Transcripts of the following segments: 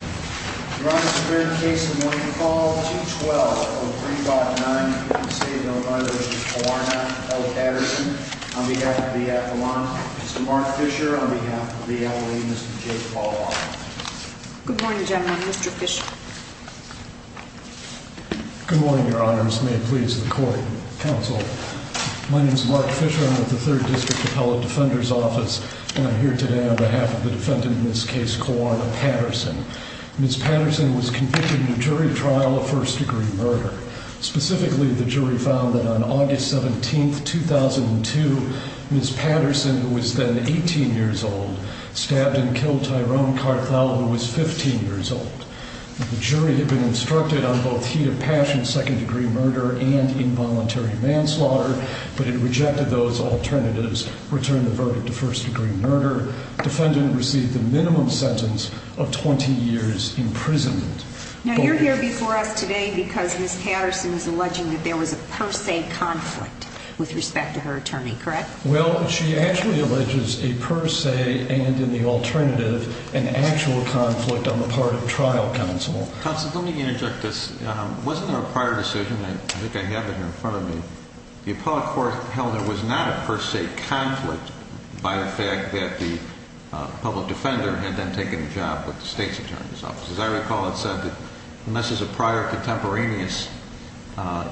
Good morning, your honors. May it please the court, counsel. My name is Mark Fisher. I'm with the 3rd District Appellate Defender's Office, and I'm here today on behalf of the defendant in this case, Kawana Patterson. Ms. Patterson was convicted in a jury trial of first-degree murder. Specifically, the jury found that on August 17, 2002, Ms. Patterson, who was then 18 years old, stabbed and killed Tyrone Carthel, who was 15 years old. The jury had been instructed on both heat of passion second-degree murder and involuntary manslaughter, but it rejected those alternatives, returned the verdict to first-degree murder. Defendant received the minimum sentence of 20 years imprisonment. Now, you're here before us today because Ms. Patterson is alleging that there was a per se conflict with respect to her attorney, correct? Well, she actually alleges a per se and, in the alternative, an actual conflict on the part of the trial counsel. Counsel, let me interject this. Wasn't there a prior decision? I think I have it here in front of me. The appellate court held there was not a per se conflict by the fact that the public defender had then taken a job with the state's attorney's office. As I recall, it said that unless there's a prior contemporaneous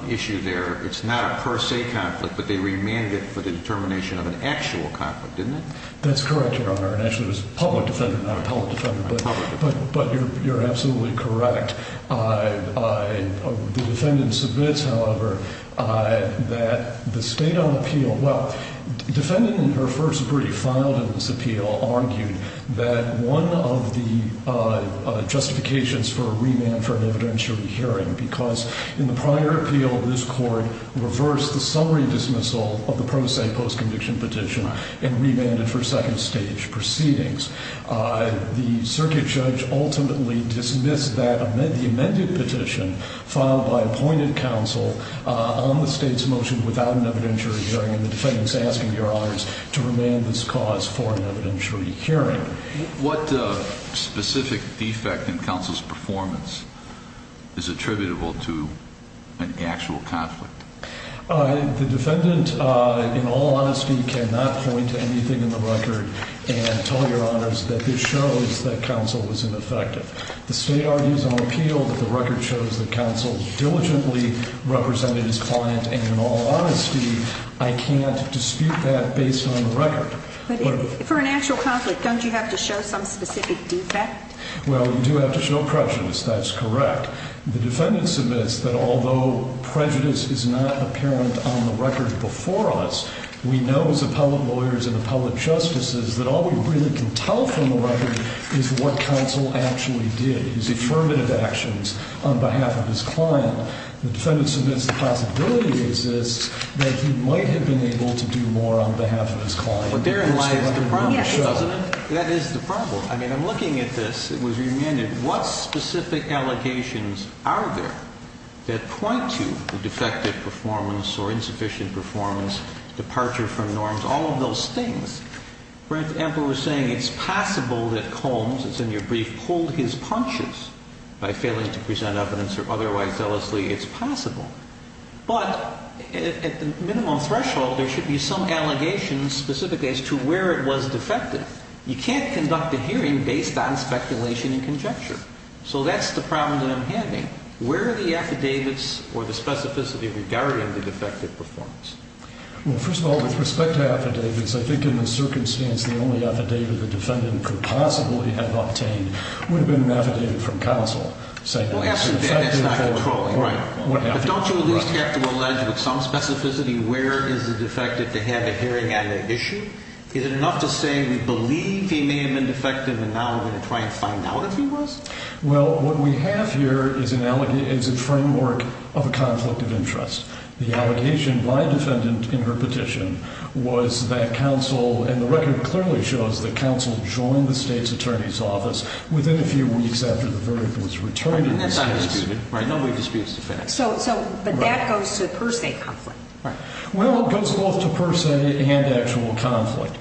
issue there, it's not a per se conflict, but they remanded it for the determination of an actual conflict, didn't it? That's correct, Your Honor, and actually it was a public defender, not an appellate defender, but you're absolutely correct. The defendant submits, however, that the state on appeal – well, defendant in her first brief filed in this appeal argued that one of the justifications for a remand for an evidentiary hearing, because in the prior appeal, this court reversed the summary dismissal of the per se post-conviction petition and remanded for second stage proceedings. The circuit judge ultimately dismissed that – the amended petition filed by appointed counsel on the state's motion without an evidentiary hearing, and the defendant is asking Your Honors to remand this cause for an evidentiary hearing. What specific defect in counsel's performance is attributable to an actual conflict? The defendant, in all honesty, cannot point to anything in the record and tell Your Honors that this shows that counsel was ineffective. The state argues on appeal that the record shows that counsel diligently represented his client, and in all honesty, I can't dispute that based on the record. But for an actual conflict, don't you have to show some specific defect? Well, you do have to show prejudice. That's correct. The defendant submits that although prejudice is not apparent on the record before us, we know as appellate lawyers and appellate justices that all we really can tell from the record is what counsel actually did, his affirmative actions on behalf of his client. The defendant submits the possibility exists that he might have been able to do more on behalf of his client. But therein lies the problem, doesn't it? Yes, Your Honor. That is the problem. I mean, I'm looking at this. It was remanded. What specific allegations are there that point to the defective performance or insufficient performance, departure from norms, all of those things? For instance, Amber was saying it's possible that Combs, as in your brief, pulled his punches by failing to present evidence or otherwise zealously it's possible. But at the minimum threshold, there should be some allegations specifically as to where it was defective. You can't conduct a hearing based on speculation and conjecture. So that's the problem that I'm having. Where are the affidavits or the specificity regarding the defective performance? Well, first of all, with respect to affidavits, I think in this circumstance the only affidavit the defendant could possibly have obtained would have been an affidavit from counsel. Well, that's not controlling. Right. But don't you at least have to allege with some specificity where is the defective to have a hearing on the issue? Is it enough to say we believe he may have been defective and now we're going to try and find out if he was? Well, what we have here is a framework of a conflict of interest. The allegation by a defendant in her petition was that counsel and the record clearly shows that counsel joined the state's attorney's office within a few weeks after the verdict was returned. And that's not disputed. Right. No more disputes to finish. But that goes to per se conflict. Right. Well, it goes both to per se and actual conflict.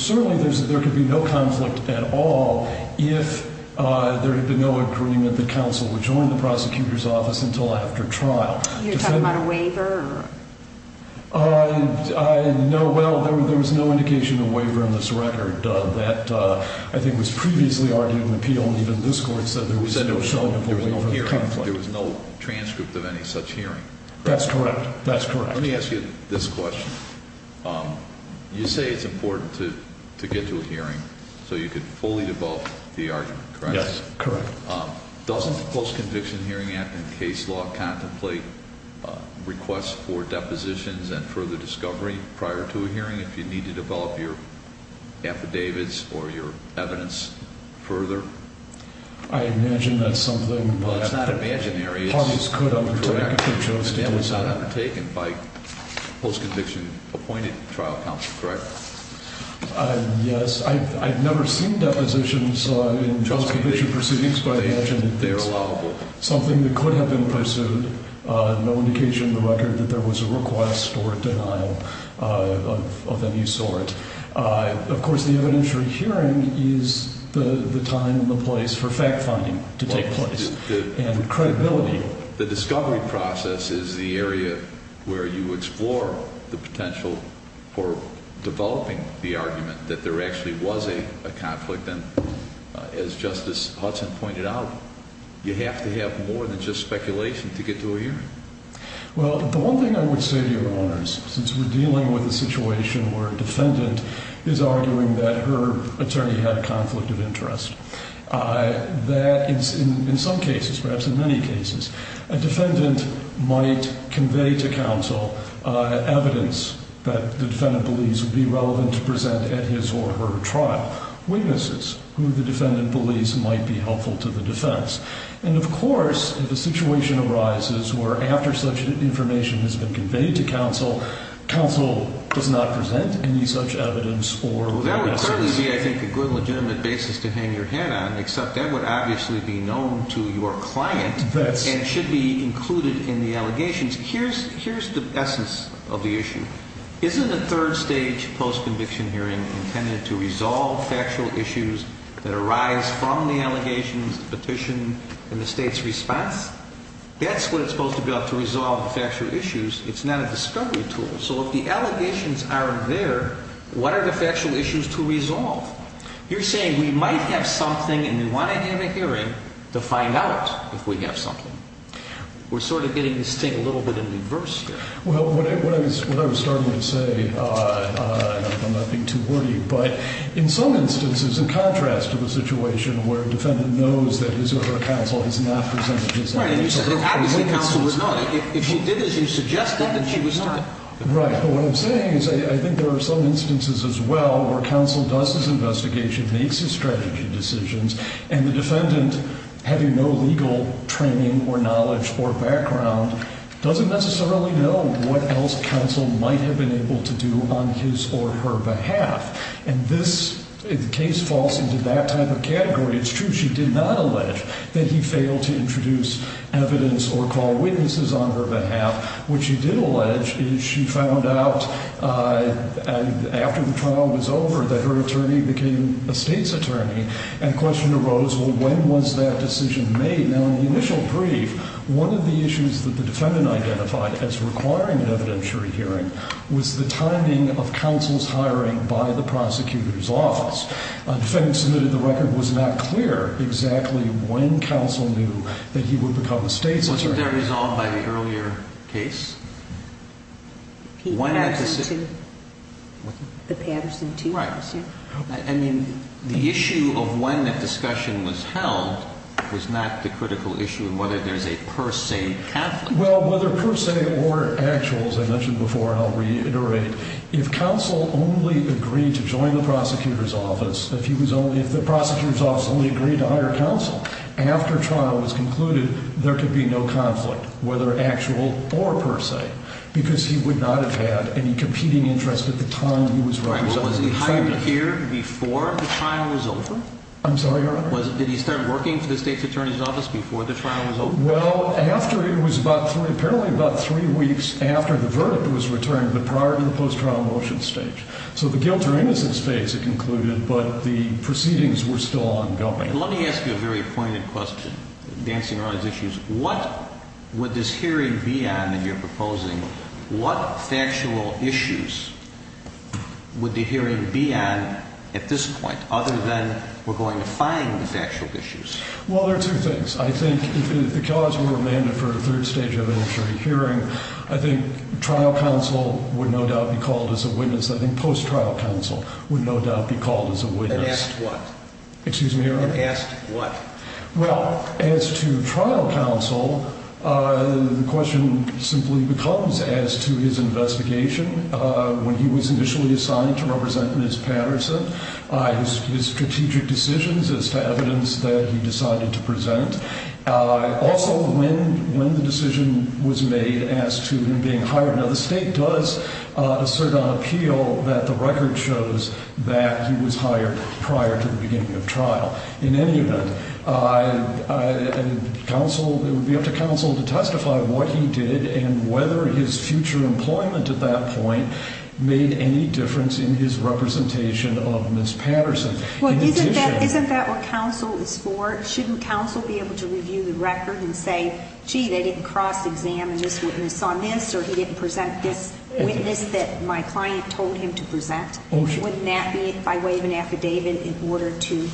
Certainly there could be no conflict at all if there had been no agreement that counsel would join the prosecutor's office until after trial. You're talking about a waiver? No. Well, there was no indication of waiver in this record that I think was previously argued in the appeal. And even this court said there was no showing of a waiver in the conflict. There was no transcript of any such hearing. That's correct. That's correct. Let me ask you this question. You say it's important to get to a hearing so you could fully debunk the argument, correct? Yes, correct. Doesn't the Post-Conviction Hearing Act and case law contemplate requests for depositions and further discovery prior to a hearing if you need to develop your affidavits or your evidence further? I imagine that's something. Well, it's not imaginary. Parties could undertake if they chose to do so. That was not undertaken by post-conviction appointed trial counsel, correct? Yes. I've never seen depositions in trial conviction proceedings, but I imagine it's something that could have been pursued. No indication in the record that there was a request for denial of any sort. Of course, the evidentiary hearing is the time and the place for fact-finding to take place and credibility. The discovery process is the area where you explore the potential for developing the argument that there actually was a conflict. And as Justice Hudson pointed out, you have to have more than just speculation to get to a hearing. Well, the one thing I would say to your Honors, since we're dealing with a situation where a defendant is arguing that her attorney had a conflict of interest, that in some cases, perhaps in many cases, a defendant might convey to counsel evidence that the defendant believes would be relevant to present at his or her trial, witnesses who the defendant believes might be helpful to the defense. And, of course, if a situation arises where after such information has been conveyed to counsel, counsel does not present any such evidence or witnesses. That would clearly be, I think, a good legitimate basis to hang your head on, except that would obviously be known to your client and should be included in the allegations. Here's the essence of the issue. Isn't a third-stage post-conviction hearing intended to resolve factual issues that arise from the allegations, the petition, and the State's response? That's what it's supposed to be about, to resolve the factual issues. It's not a discovery tool. So if the allegations are there, what are the factual issues to resolve? You're saying we might have something and we want to end a hearing to find out if we have something. We're sort of getting this thing a little bit in reverse here. Well, what I was starting to say, and I'm not being too wordy, but in some instances, in contrast to the situation where a defendant knows that his or her counsel has not presented his evidence. Right, and you said that obviously counsel would know. If she did as you suggested, then she would know. Right, but what I'm saying is I think there are some instances as well where counsel does his investigation, makes his strategy decisions, and the defendant, having no legal training or knowledge or background, doesn't necessarily know what else counsel might have been able to do on his or her behalf. And this case falls into that type of category. It's true she did not allege that he failed to introduce evidence or call witnesses on her behalf. What she did allege is she found out after the trial was over that her attorney became a state's attorney. And the question arose, well, when was that decision made? Now, in the initial brief, one of the issues that the defendant identified as requiring an evidentiary hearing was the timing of counsel's hiring by the prosecutor's office. The defendant submitted the record. It was not clear exactly when counsel knew that he would become a state's attorney. Wasn't that resolved by the earlier case? The Patterson 2? Right. And the issue of when that discussion was held was not the critical issue of whether there's a per se conflict. Well, whether per se or actual, as I mentioned before, and I'll reiterate, if counsel only agreed to join the prosecutor's office, if the prosecutor's office only agreed to hire counsel, after trial was concluded, there could be no conflict, whether actual or per se, because he would not have had any competing interest at the time he was running for the attorney general. Was he hired here before the trial was over? I'm sorry, Your Honor? Did he start working for the state's attorney's office before the trial was over? Well, after, it was apparently about three weeks after the verdict was returned, but prior to the post-trial motion stage. So the guilt or innocence phase had concluded, but the proceedings were still ongoing. Let me ask you a very pointed question, dancing around these issues. What would this hearing be on that you're proposing? What factual issues would the hearing be on at this point, other than we're going to find the factual issues? Well, there are two things. I think if the killers were remanded for a third stage of injury hearing, I think trial counsel would no doubt be called as a witness. I think post-trial counsel would no doubt be called as a witness. And asked what? Excuse me, Your Honor? And asked what? Well, as to trial counsel, the question simply becomes as to his investigation, when he was initially assigned to represent Ms. Patterson, his strategic decisions as to evidence that he decided to present. Also, when the decision was made as to him being hired. Now, the state does assert on appeal that the record shows that he was hired prior to the beginning of trial. In any event, it would be up to counsel to testify what he did and whether his future employment at that point made any difference in his representation of Ms. Patterson. Well, isn't that what counsel is for? Shouldn't counsel be able to review the record and say, gee, they didn't cross-examine this witness on this, or he didn't present this witness that my client told him to present? Wouldn't that be by way of an affidavit in order to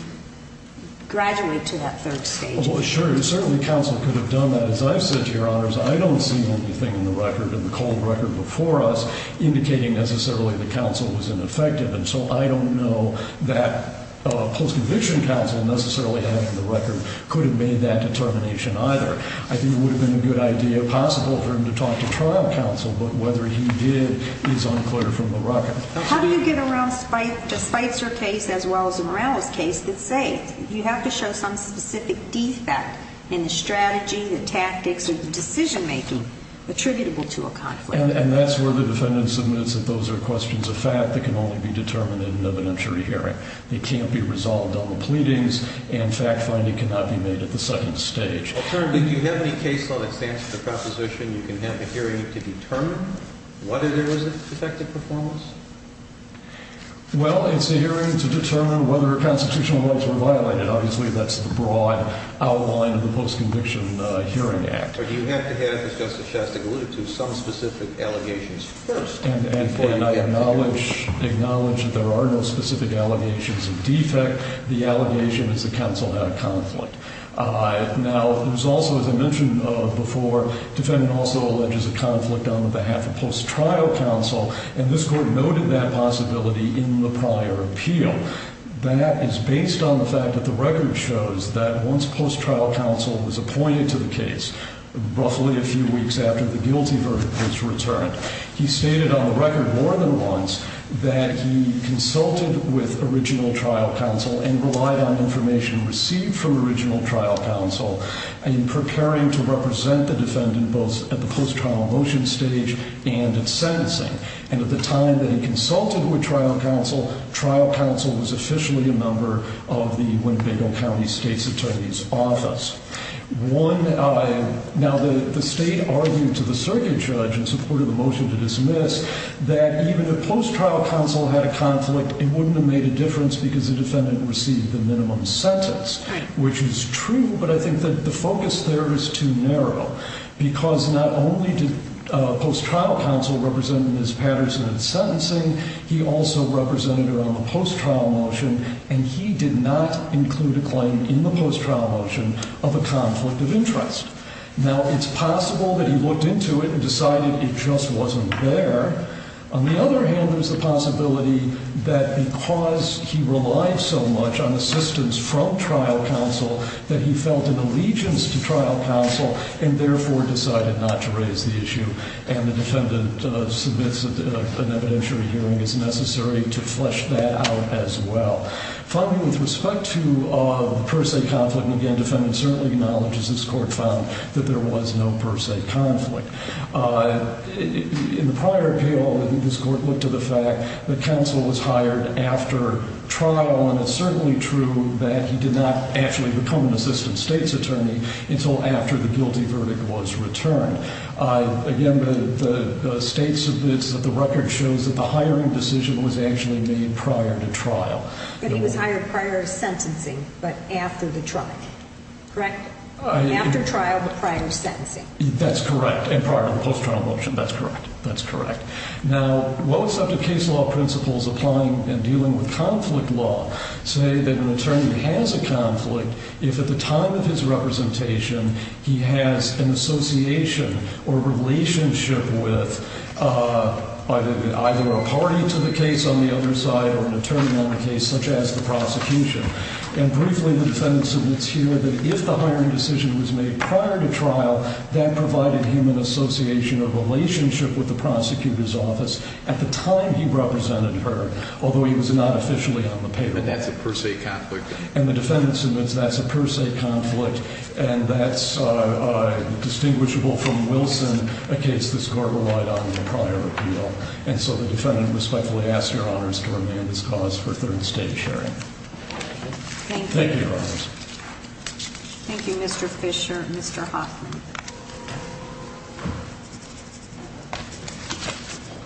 graduate to that third stage? Well, sure. Certainly, counsel could have done that. As I've said to Your Honors, I don't see anything in the record, in the cold record before us, indicating necessarily the counsel was ineffective. And so I don't know that a post-conviction counsel necessarily having the record could have made that determination either. I think it would have been a good idea possible for him to talk to trial counsel, but whether he did is unclear from the record. How do you get around the Spitzer case as well as the Morales case that say you have to show some specific defect in the strategy, the tactics, or the decision-making attributable to a conflict? And that's where the defendant submits that those are questions of fact that can only be determined in an evidentiary hearing. They can't be resolved on the pleadings, and fact-finding cannot be made at the second stage. Alternatively, do you have any case law that stands for the proposition you can have a hearing to determine whether there was a defective performance? Well, it's a hearing to determine whether constitutional rules were violated. Obviously, that's the broad outline of the Post-Conviction Hearing Act. Or do you have to have, as Justice Shastak alluded to, some specific allegations first before you get to the hearing? And I acknowledge that there are no specific allegations of defect. The allegation is the counsel had a conflict. Now, there's also, as I mentioned before, defendant also alleges a conflict on behalf of post-trial counsel, and this Court noted that possibility in the prior appeal. That is based on the fact that the record shows that once post-trial counsel was appointed to the case, roughly a few weeks after the guilty verdict was returned, he stated on the record more than once that he consulted with original trial counsel and relied on information received from original trial counsel in preparing to represent the defendant both at the post-trial motion stage and at sentencing. And at the time that he consulted with trial counsel, trial counsel was officially a member of the Winnebago County State's Attorney's Office. Now, the State argued to the circuit judge in support of the motion to dismiss that even if post-trial counsel had a conflict, it wouldn't have made a difference because the defendant received the minimum sentence, which is true. But I think that the focus there is too narrow because not only did post-trial counsel represent Ms. Patterson at sentencing, he also represented her on the post-trial motion, and he did not include a claim in the post-trial motion of a conflict of interest. Now, it's possible that he looked into it and decided it just wasn't there. On the other hand, there's the possibility that because he relied so much on assistance from trial counsel, that he felt an allegiance to trial counsel and therefore decided not to raise the issue, and the defendant submits an evidentiary hearing, it's necessary to flesh that out as well. Finally, with respect to the per se conflict, and again, the defendant certainly acknowledges this court found that there was no per se conflict. In the prior appeal, I think this court looked to the fact that counsel was hired after trial, and it's certainly true that he did not actually become an assistant state's attorney until after the guilty verdict was returned. Again, the state submits that the record shows that the hiring decision was actually made prior to trial. But he was hired prior to sentencing but after the trial, correct? After trial but prior to sentencing. That's correct. And prior to the post-trial motion. That's correct. That's correct. Now, well-accepted case law principles applying and dealing with conflict law say that an attorney has a conflict if at the time of his representation he has an association or relationship with either a party to the case on the other side or an attorney on the case such as the prosecution. And briefly, the defendant submits here that if the hiring decision was made prior to trial, that provided him an association or relationship with the prosecutor's office at the time he represented her, although he was not officially on the paper. But that's a per se conflict. And the defendant submits that's a per se conflict, and that's distinguishable from Wilson, a case this court relied on in the prior appeal. And so the defendant respectfully asks Your Honors to remand his cause for third stage hearing. Thank you, Your Honors. Thank you, Mr. Fisher. Mr. Hoffman.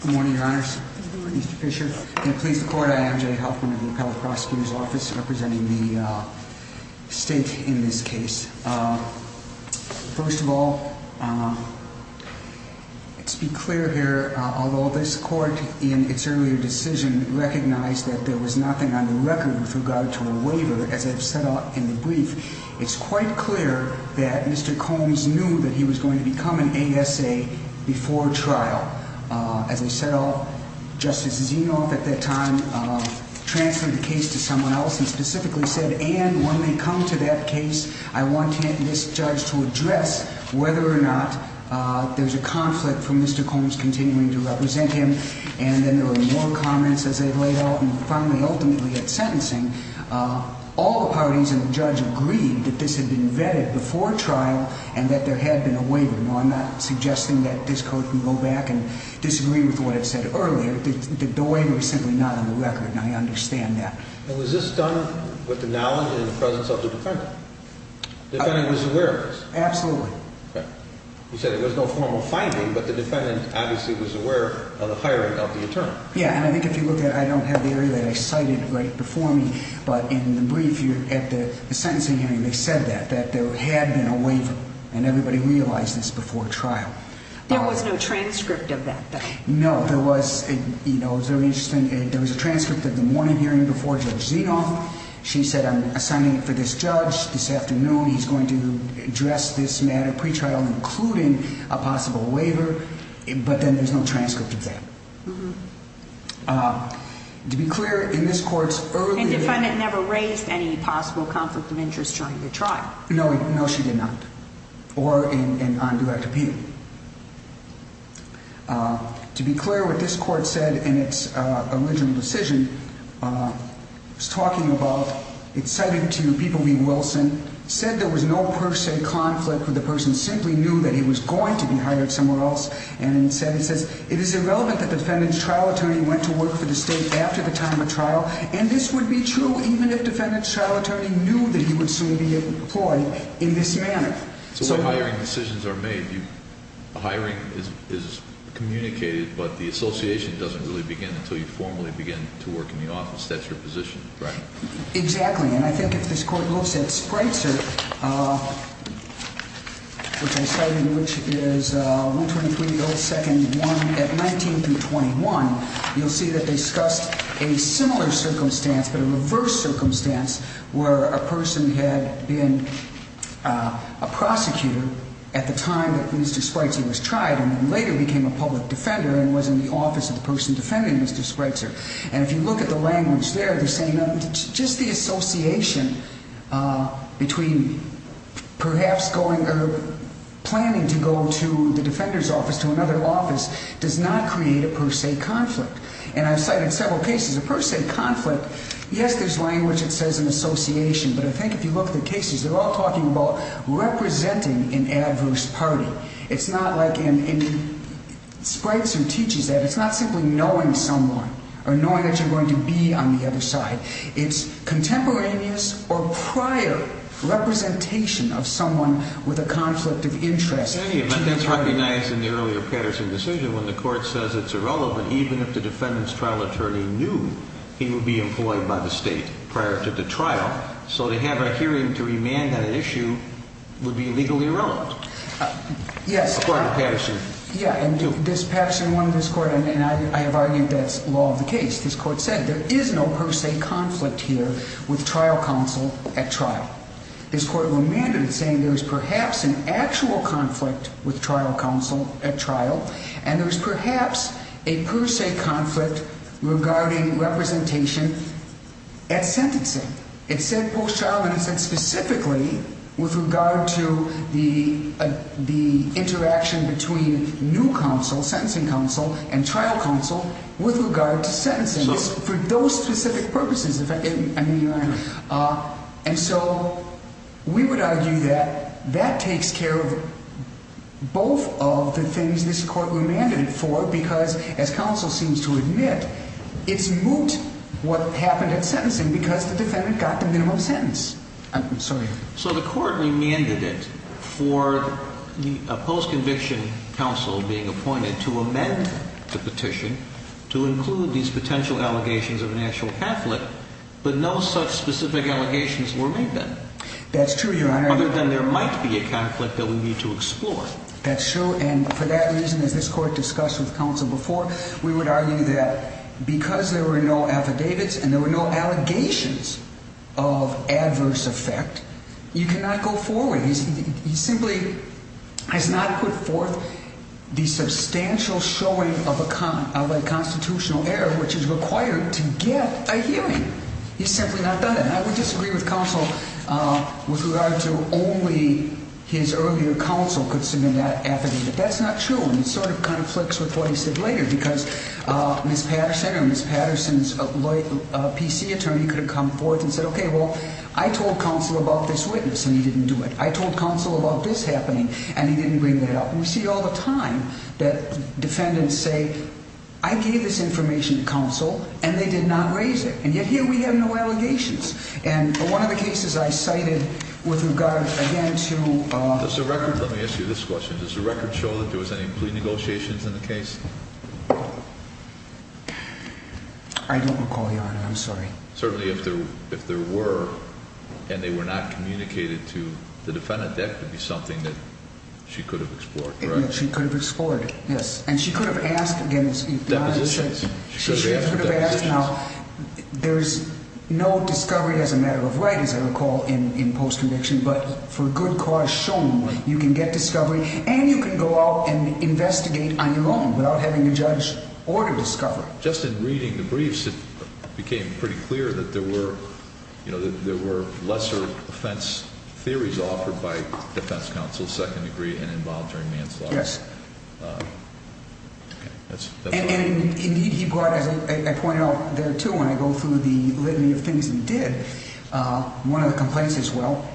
Good morning, Your Honors. Good morning, Mr. Fisher. In the police court, I am Jay Hoffman of the Appellate Prosecutor's Office representing the state in this case. First of all, let's be clear here. Although this court in its earlier decision recognized that there was nothing on the record with regard to a waiver, as I've said in the brief, it's quite clear that Mr. Combs knew that he was going to become an ASA before trial. As I said, Justice Zinoff at that time transferred the case to someone else and specifically said, and when they come to that case, I want this judge to address whether or not there's a conflict for Mr. Combs continuing to represent him. And then there were more comments as they laid out, and finally, ultimately at sentencing, all the parties and the judge agreed that this had been vetted before trial and that there had been a waiver. Now, I'm not suggesting that this court can go back and disagree with what it said earlier. The waiver is simply not on the record, and I understand that. And was this done with the knowledge and the presence of the defendant? The defendant was aware of this? Absolutely. Okay. You said there was no formal finding, but the defendant obviously was aware of the hiring of the attorney. Yeah, and I think if you look at it, I don't have the area that I cited right before me, but in the brief at the sentencing hearing, they said that, that there had been a waiver, and everybody realized this before trial. There was no transcript of that, though. No, there was. You know, it was very interesting. There was a transcript at the morning hearing before Judge Zenoff. She said, I'm assigning it for this judge this afternoon. He's going to address this matter pretrial, including a possible waiver, but then there's no transcript of that. Uh-huh. To be clear, in this court's earlier- And the defendant never raised any possible conflict of interest during the trial. No, she did not. Or on direct appeal. To be clear, what this court said in its original decision, it was talking about, it cited to People v. Wilson, said there was no per se conflict where the person simply knew that he was going to be hired somewhere else, and it says, it is irrelevant that the defendant's trial attorney went to work for the state after the time of trial, and this would be true even if the defendant's trial attorney knew that he would soon be employed in this manner. So when hiring decisions are made, the hiring is communicated, but the association doesn't really begin until you formally begin to work in the office. That's your position, right? Exactly. And I think if this court looks at Spreitzer, which I cited, which is 123-0-2-1 at 19-21, you'll see that they discussed a similar circumstance, but a reverse circumstance, where a person had been a prosecutor at the time that Mr. Spreitzer was tried, and then later became a public defender and was in the office of the person defending Mr. Spreitzer. And if you look at the language there, they're saying just the association between perhaps going, or planning to go to the defender's office, to another office, does not create a per se conflict. And I've cited several cases of per se conflict. Yes, there's language that says an association, but I think if you look at the cases, they're all talking about representing an adverse party. It's not like in Spreitzer teaches that. It's not simply knowing someone or knowing that you're going to be on the other side. It's contemporaneous or prior representation of someone with a conflict of interest. In any event, that's recognized in the earlier Patterson decision when the court says it's irrelevant, even if the defendant's trial attorney knew he would be employed by the state prior to the trial. So to have a hearing to remand on an issue would be legally irrelevant. Yes. According to Patterson. Yeah, and this Patterson one, this court, and I have argued that's law of the case. This court said there is no per se conflict here with trial counsel at trial. This court remanded saying there was perhaps an actual conflict with trial counsel at trial, and there was perhaps a per se conflict regarding representation at sentencing. It said post-trial, and it said specifically with regard to the interaction between new counsel, and trial counsel with regard to sentencing for those specific purposes. And so we would argue that that takes care of both of the things this court remanded it for because, as counsel seems to admit, it's moot what happened at sentencing because the defendant got the minimum sentence. I'm sorry. So the court remanded it for the post-conviction counsel being appointed to amend the petition to include these potential allegations of an actual conflict, but no such specific allegations were made then. That's true, Your Honor. Other than there might be a conflict that we need to explore. That's true, and for that reason, as this court discussed with counsel before, we would argue that because there were no affidavits and there were no allegations of adverse effect, you cannot go forward. He simply has not put forth the substantial showing of a constitutional error which is required to get a hearing. He's simply not done it. And I would disagree with counsel with regard to only his earlier counsel could submit that affidavit. That's not true, and it sort of conflicts with what he said later because Ms. Patterson or Ms. Patterson's PC attorney could have come forth and said, okay, well, I told counsel about this witness, and he didn't do it. I told counsel about this happening, and he didn't bring that up. And we see all the time that defendants say, I gave this information to counsel, and they did not raise it. And yet here we have no allegations. And one of the cases I cited with regard, again, to – Did she show that there was any plea negotiations in the case? I don't recall, Your Honor. I'm sorry. Certainly if there were, and they were not communicated to the defendant, that could be something that she could have explored, correct? She could have explored, yes. And she could have asked – Depositions. She could have asked. Now, there's no discovery as a matter of right, as I recall, in post-conviction. But for good cause shown, you can get discovery, and you can go out and investigate on your own without having a judge order discovery. Just in reading the briefs, it became pretty clear that there were lesser offense theories offered by defense counsel, second degree and involuntary manslaughter. Yes. And indeed, he brought, as I pointed out there, too, when I go through the litany of things he did, one of the complaints is, well,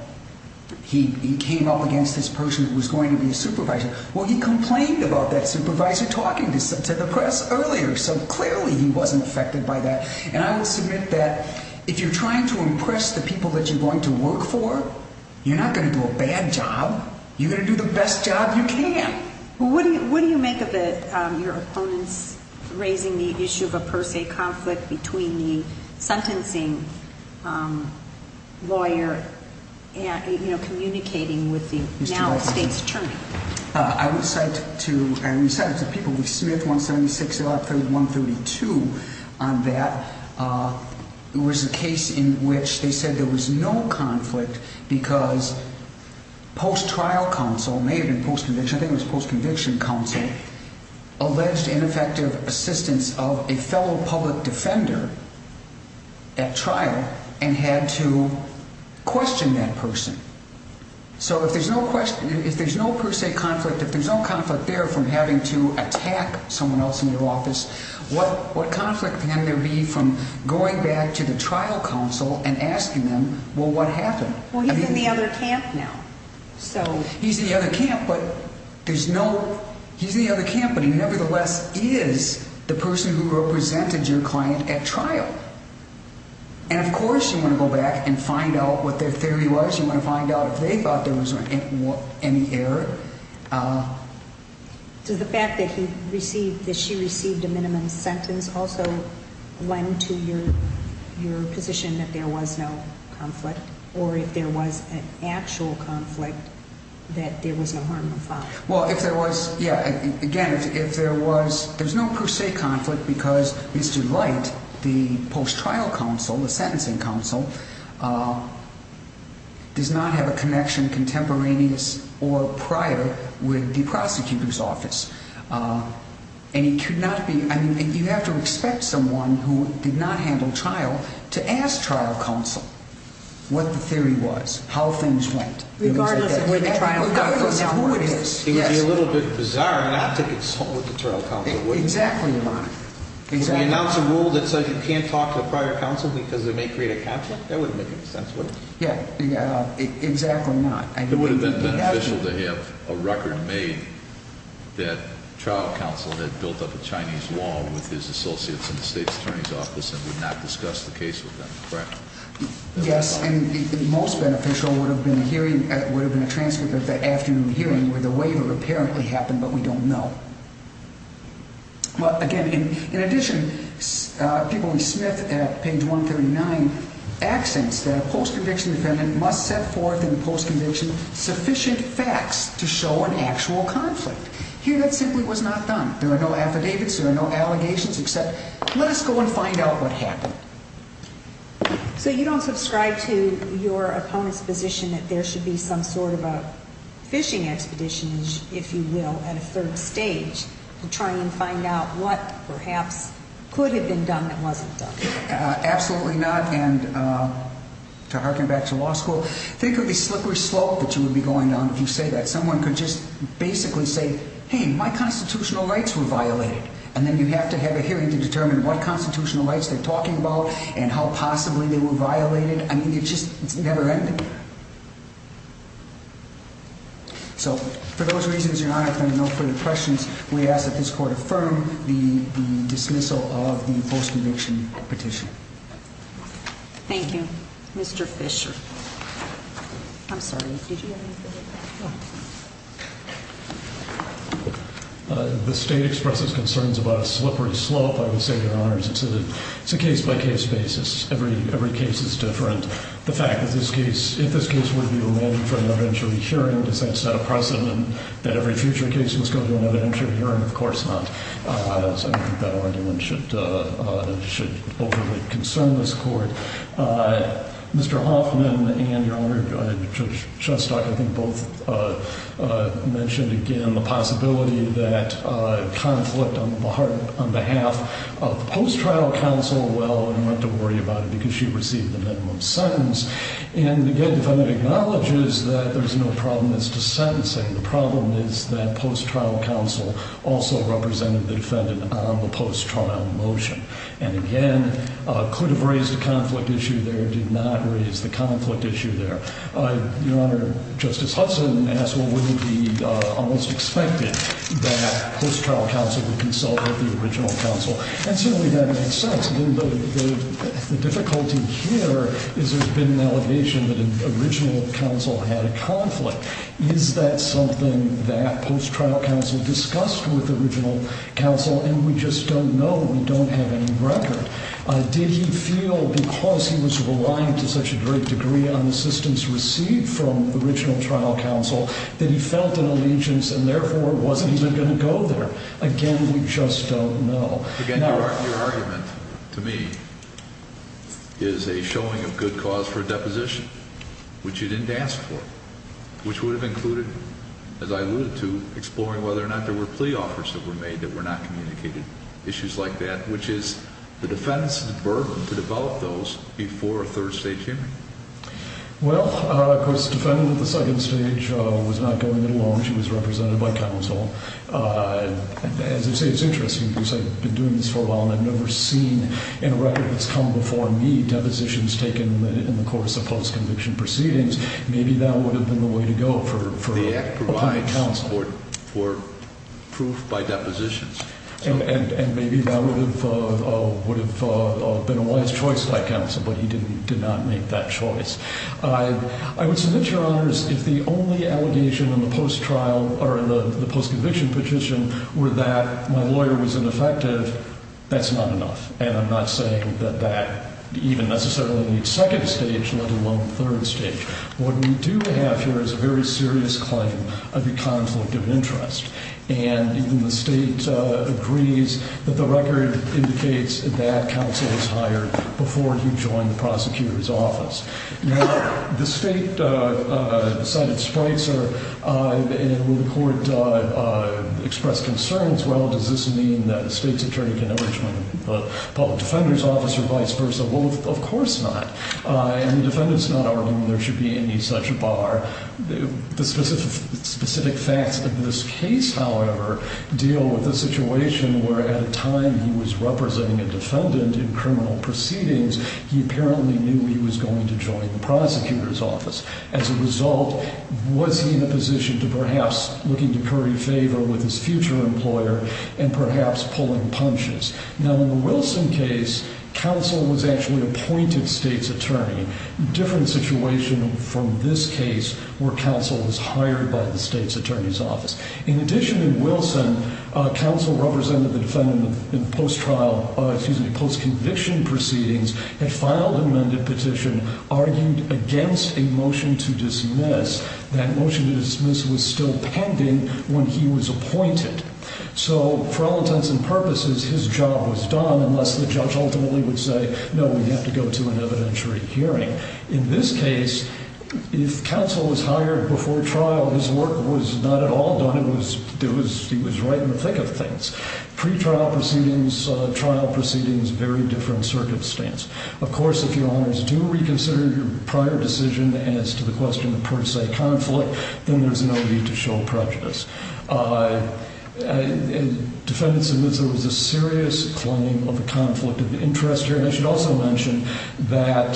he came up against this person who was going to be a supervisor. Well, he complained about that supervisor talking to the press earlier, so clearly he wasn't affected by that. And I will submit that if you're trying to impress the people that you're going to work for, you're not going to do a bad job. You're going to do the best job you can. What do you make of your opponents raising the issue of a per se conflict between the sentencing lawyer and communicating with the now state's attorney? I would cite to people with Smith 176, 132 on that. It was a case in which they said there was no conflict because post-trial counsel, it may have been post-conviction, I think it was post-conviction counsel, alleged ineffective assistance of a fellow public defender at trial and had to question that person. So if there's no per se conflict, if there's no conflict there from having to attack someone else in their office, what conflict can there be from going back to the trial counsel and asking them, well, what happened? Well, he's in the other camp now. He's in the other camp, but he nevertheless is the person who represented your client at trial. And, of course, you want to go back and find out what their theory was. You want to find out if they thought there was any error. Does the fact that she received a minimum sentence also lend to your position that there was no conflict? Or if there was an actual conflict, that there was no harm of file? Well, if there was, yeah. Again, if there was, there's no per se conflict because Mr. Light, the post-trial counsel, the sentencing counsel, does not have a connection contemporaneous or prior with the prosecutor's office. And he could not be, I mean, you have to expect someone who did not handle trial to ask trial counsel what the theory was, how things went. Regardless of who it is. It would be a little bit bizarre not to consult with the trial counsel, wouldn't it? Exactly, Your Honor. Would we announce a rule that says you can't talk to a prior counsel because they may create a conflict? That wouldn't make any sense, would it? Yeah, exactly not. It would have been beneficial to have a record made that trial counsel had built up a Chinese wall with his associates in the state's attorney's office and would not discuss the case with them, correct? Yes, and most beneficial would have been a transcript of that afternoon hearing where the waiver apparently happened, but we don't know. Well, again, in addition, people in Smith at page 139 accents that a post-conviction defendant must set forth in the post-conviction sufficient facts to show an actual conflict. Here that simply was not done. There are no affidavits, there are no allegations, except let us go and find out what happened. So you don't subscribe to your opponent's position that there should be some sort of a fishing expedition, if you will, at a third stage to try and find out what perhaps could have been done that wasn't done? Absolutely not, and to harken back to law school, think of the slippery slope that you would be going down if you say that. Someone could just basically say, hey, my constitutional rights were violated, and then you have to have a hearing to determine what constitutional rights they're talking about and how possibly they were violated. I mean, it just never ended. So, for those reasons, Your Honor, if there are no further questions, we ask that this Court affirm the dismissal of the post-conviction petition. Thank you. Mr. Fisher. I'm sorry, did you have anything to add? No. The State expresses concerns about a slippery slope, I would say, Your Honor. It's a case-by-case basis. Every case is different. The fact that this case, if this case were to be remanded for an evidentiary hearing, does that set a precedent that every future case was going to an evidentiary hearing? Of course not. I don't think that argument should overly concern this Court. Mr. Hoffman and Your Honor, Judge Shostak, I think both mentioned, again, the possibility that conflict on behalf of the post-trial counsel, well, we don't have to worry about it because she received the minimum sentence. And, again, the defendant acknowledges that there's no problem as to sentencing. The problem is that post-trial counsel also represented the defendant on the post-trial motion. And, again, could have raised a conflict issue there, did not raise the conflict issue there. Your Honor, Justice Hudson asked, well, wouldn't it be almost expected that post-trial counsel would consult with the original counsel? And certainly that makes sense. The difficulty here is there's been an allegation that an original counsel had a conflict. Is that something that post-trial counsel discussed with original counsel? And we just don't know. We don't have any record. Did he feel because he was reliant to such a great degree on the assistance received from the original trial counsel that he felt an allegiance and, therefore, wasn't even going to go there? Again, we just don't know. Again, your argument to me is a showing of good cause for a deposition, which you didn't ask for, which would have included, as I alluded to, exploring whether or not there were plea offers that were made that were not communicated, issues like that, which is the defendant's burden to develop those before a third-stage hearing. Well, of course, the defendant at the second stage was not going it alone. She was represented by counsel. As I say, it's interesting because I've been doing this for a while and I've never seen in a record that's come before me depositions taken in the course of post-conviction proceedings. Maybe that would have been the way to go for a plea counsel. The act provides for proof by depositions. And maybe that would have been a wise choice by counsel, but he did not make that choice. I would submit, Your Honors, if the only allegation in the post-conviction petition were that my lawyer was ineffective, that's not enough. And I'm not saying that that even necessarily in the second stage, let alone the third stage. What we do have here is a very serious claim of a conflict of interest. And the state agrees that the record indicates that counsel was hired before he joined the prosecutor's office. Now, the state cited Spreitzer, and when the court expressed concerns, well, does this mean that the state's attorney can never join the public defender's office or vice versa? Well, of course not. And the defendant's not arguing there should be any such bar. The specific facts of this case, however, deal with the situation where at a time he was representing a defendant in criminal proceedings, he apparently knew he was going to join the prosecutor's office. As a result, was he in a position to perhaps looking to curry favor with his future employer and perhaps pulling punches? Now, in the Wilson case, counsel was actually appointed state's attorney, a different situation from this case where counsel was hired by the state's attorney's office. In addition, in Wilson, counsel represented the defendant in post-trial, excuse me, post-conviction proceedings, had filed an amended petition, argued against a motion to dismiss. That motion to dismiss was still pending when he was appointed. So for all intents and purposes, his job was done unless the judge ultimately would say, no, we have to go to an evidentiary hearing. In this case, if counsel was hired before trial, his work was not at all done. It was he was right in the thick of things. Pre-trial proceedings, trial proceedings, very different circumstance. Of course, if your honors do reconsider your prior decision as to the question of per se conflict, then there's no need to show prejudice. Defendants admit there was a serious claim of a conflict of interest here. I should also mention that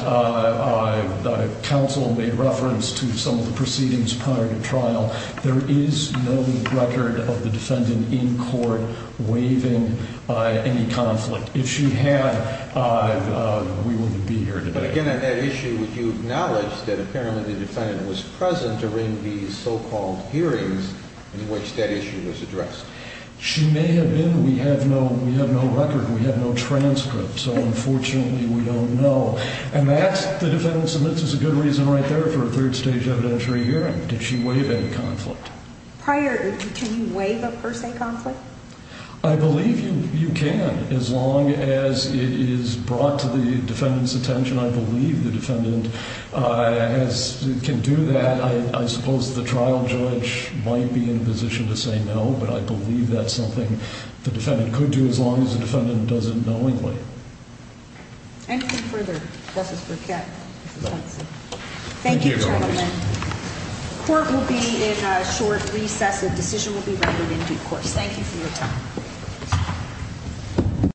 counsel made reference to some of the proceedings prior to trial. There is no record of the defendant in court waiving any conflict. If she had, we wouldn't be here today. But again, on that issue, would you acknowledge that apparently the defendant was present during these so-called hearings in which that issue was addressed? She may have been. We have no record. We have no transcript. So unfortunately, we don't know. And that's, the defendant submits as a good reason right there for a third stage evidentiary hearing. Did she waive any conflict? Prior, can you waive a per se conflict? I believe you can as long as it is brought to the defendant's attention. I believe the defendant has, can do that. I suppose the trial judge might be in a position to say no, but I believe that's something the defendant could do as long as the defendant does it knowingly. Anything further? This is for Kat. Thank you, gentlemen. Court will be in a short recess. A decision will be voted in due course. Thank you for your time.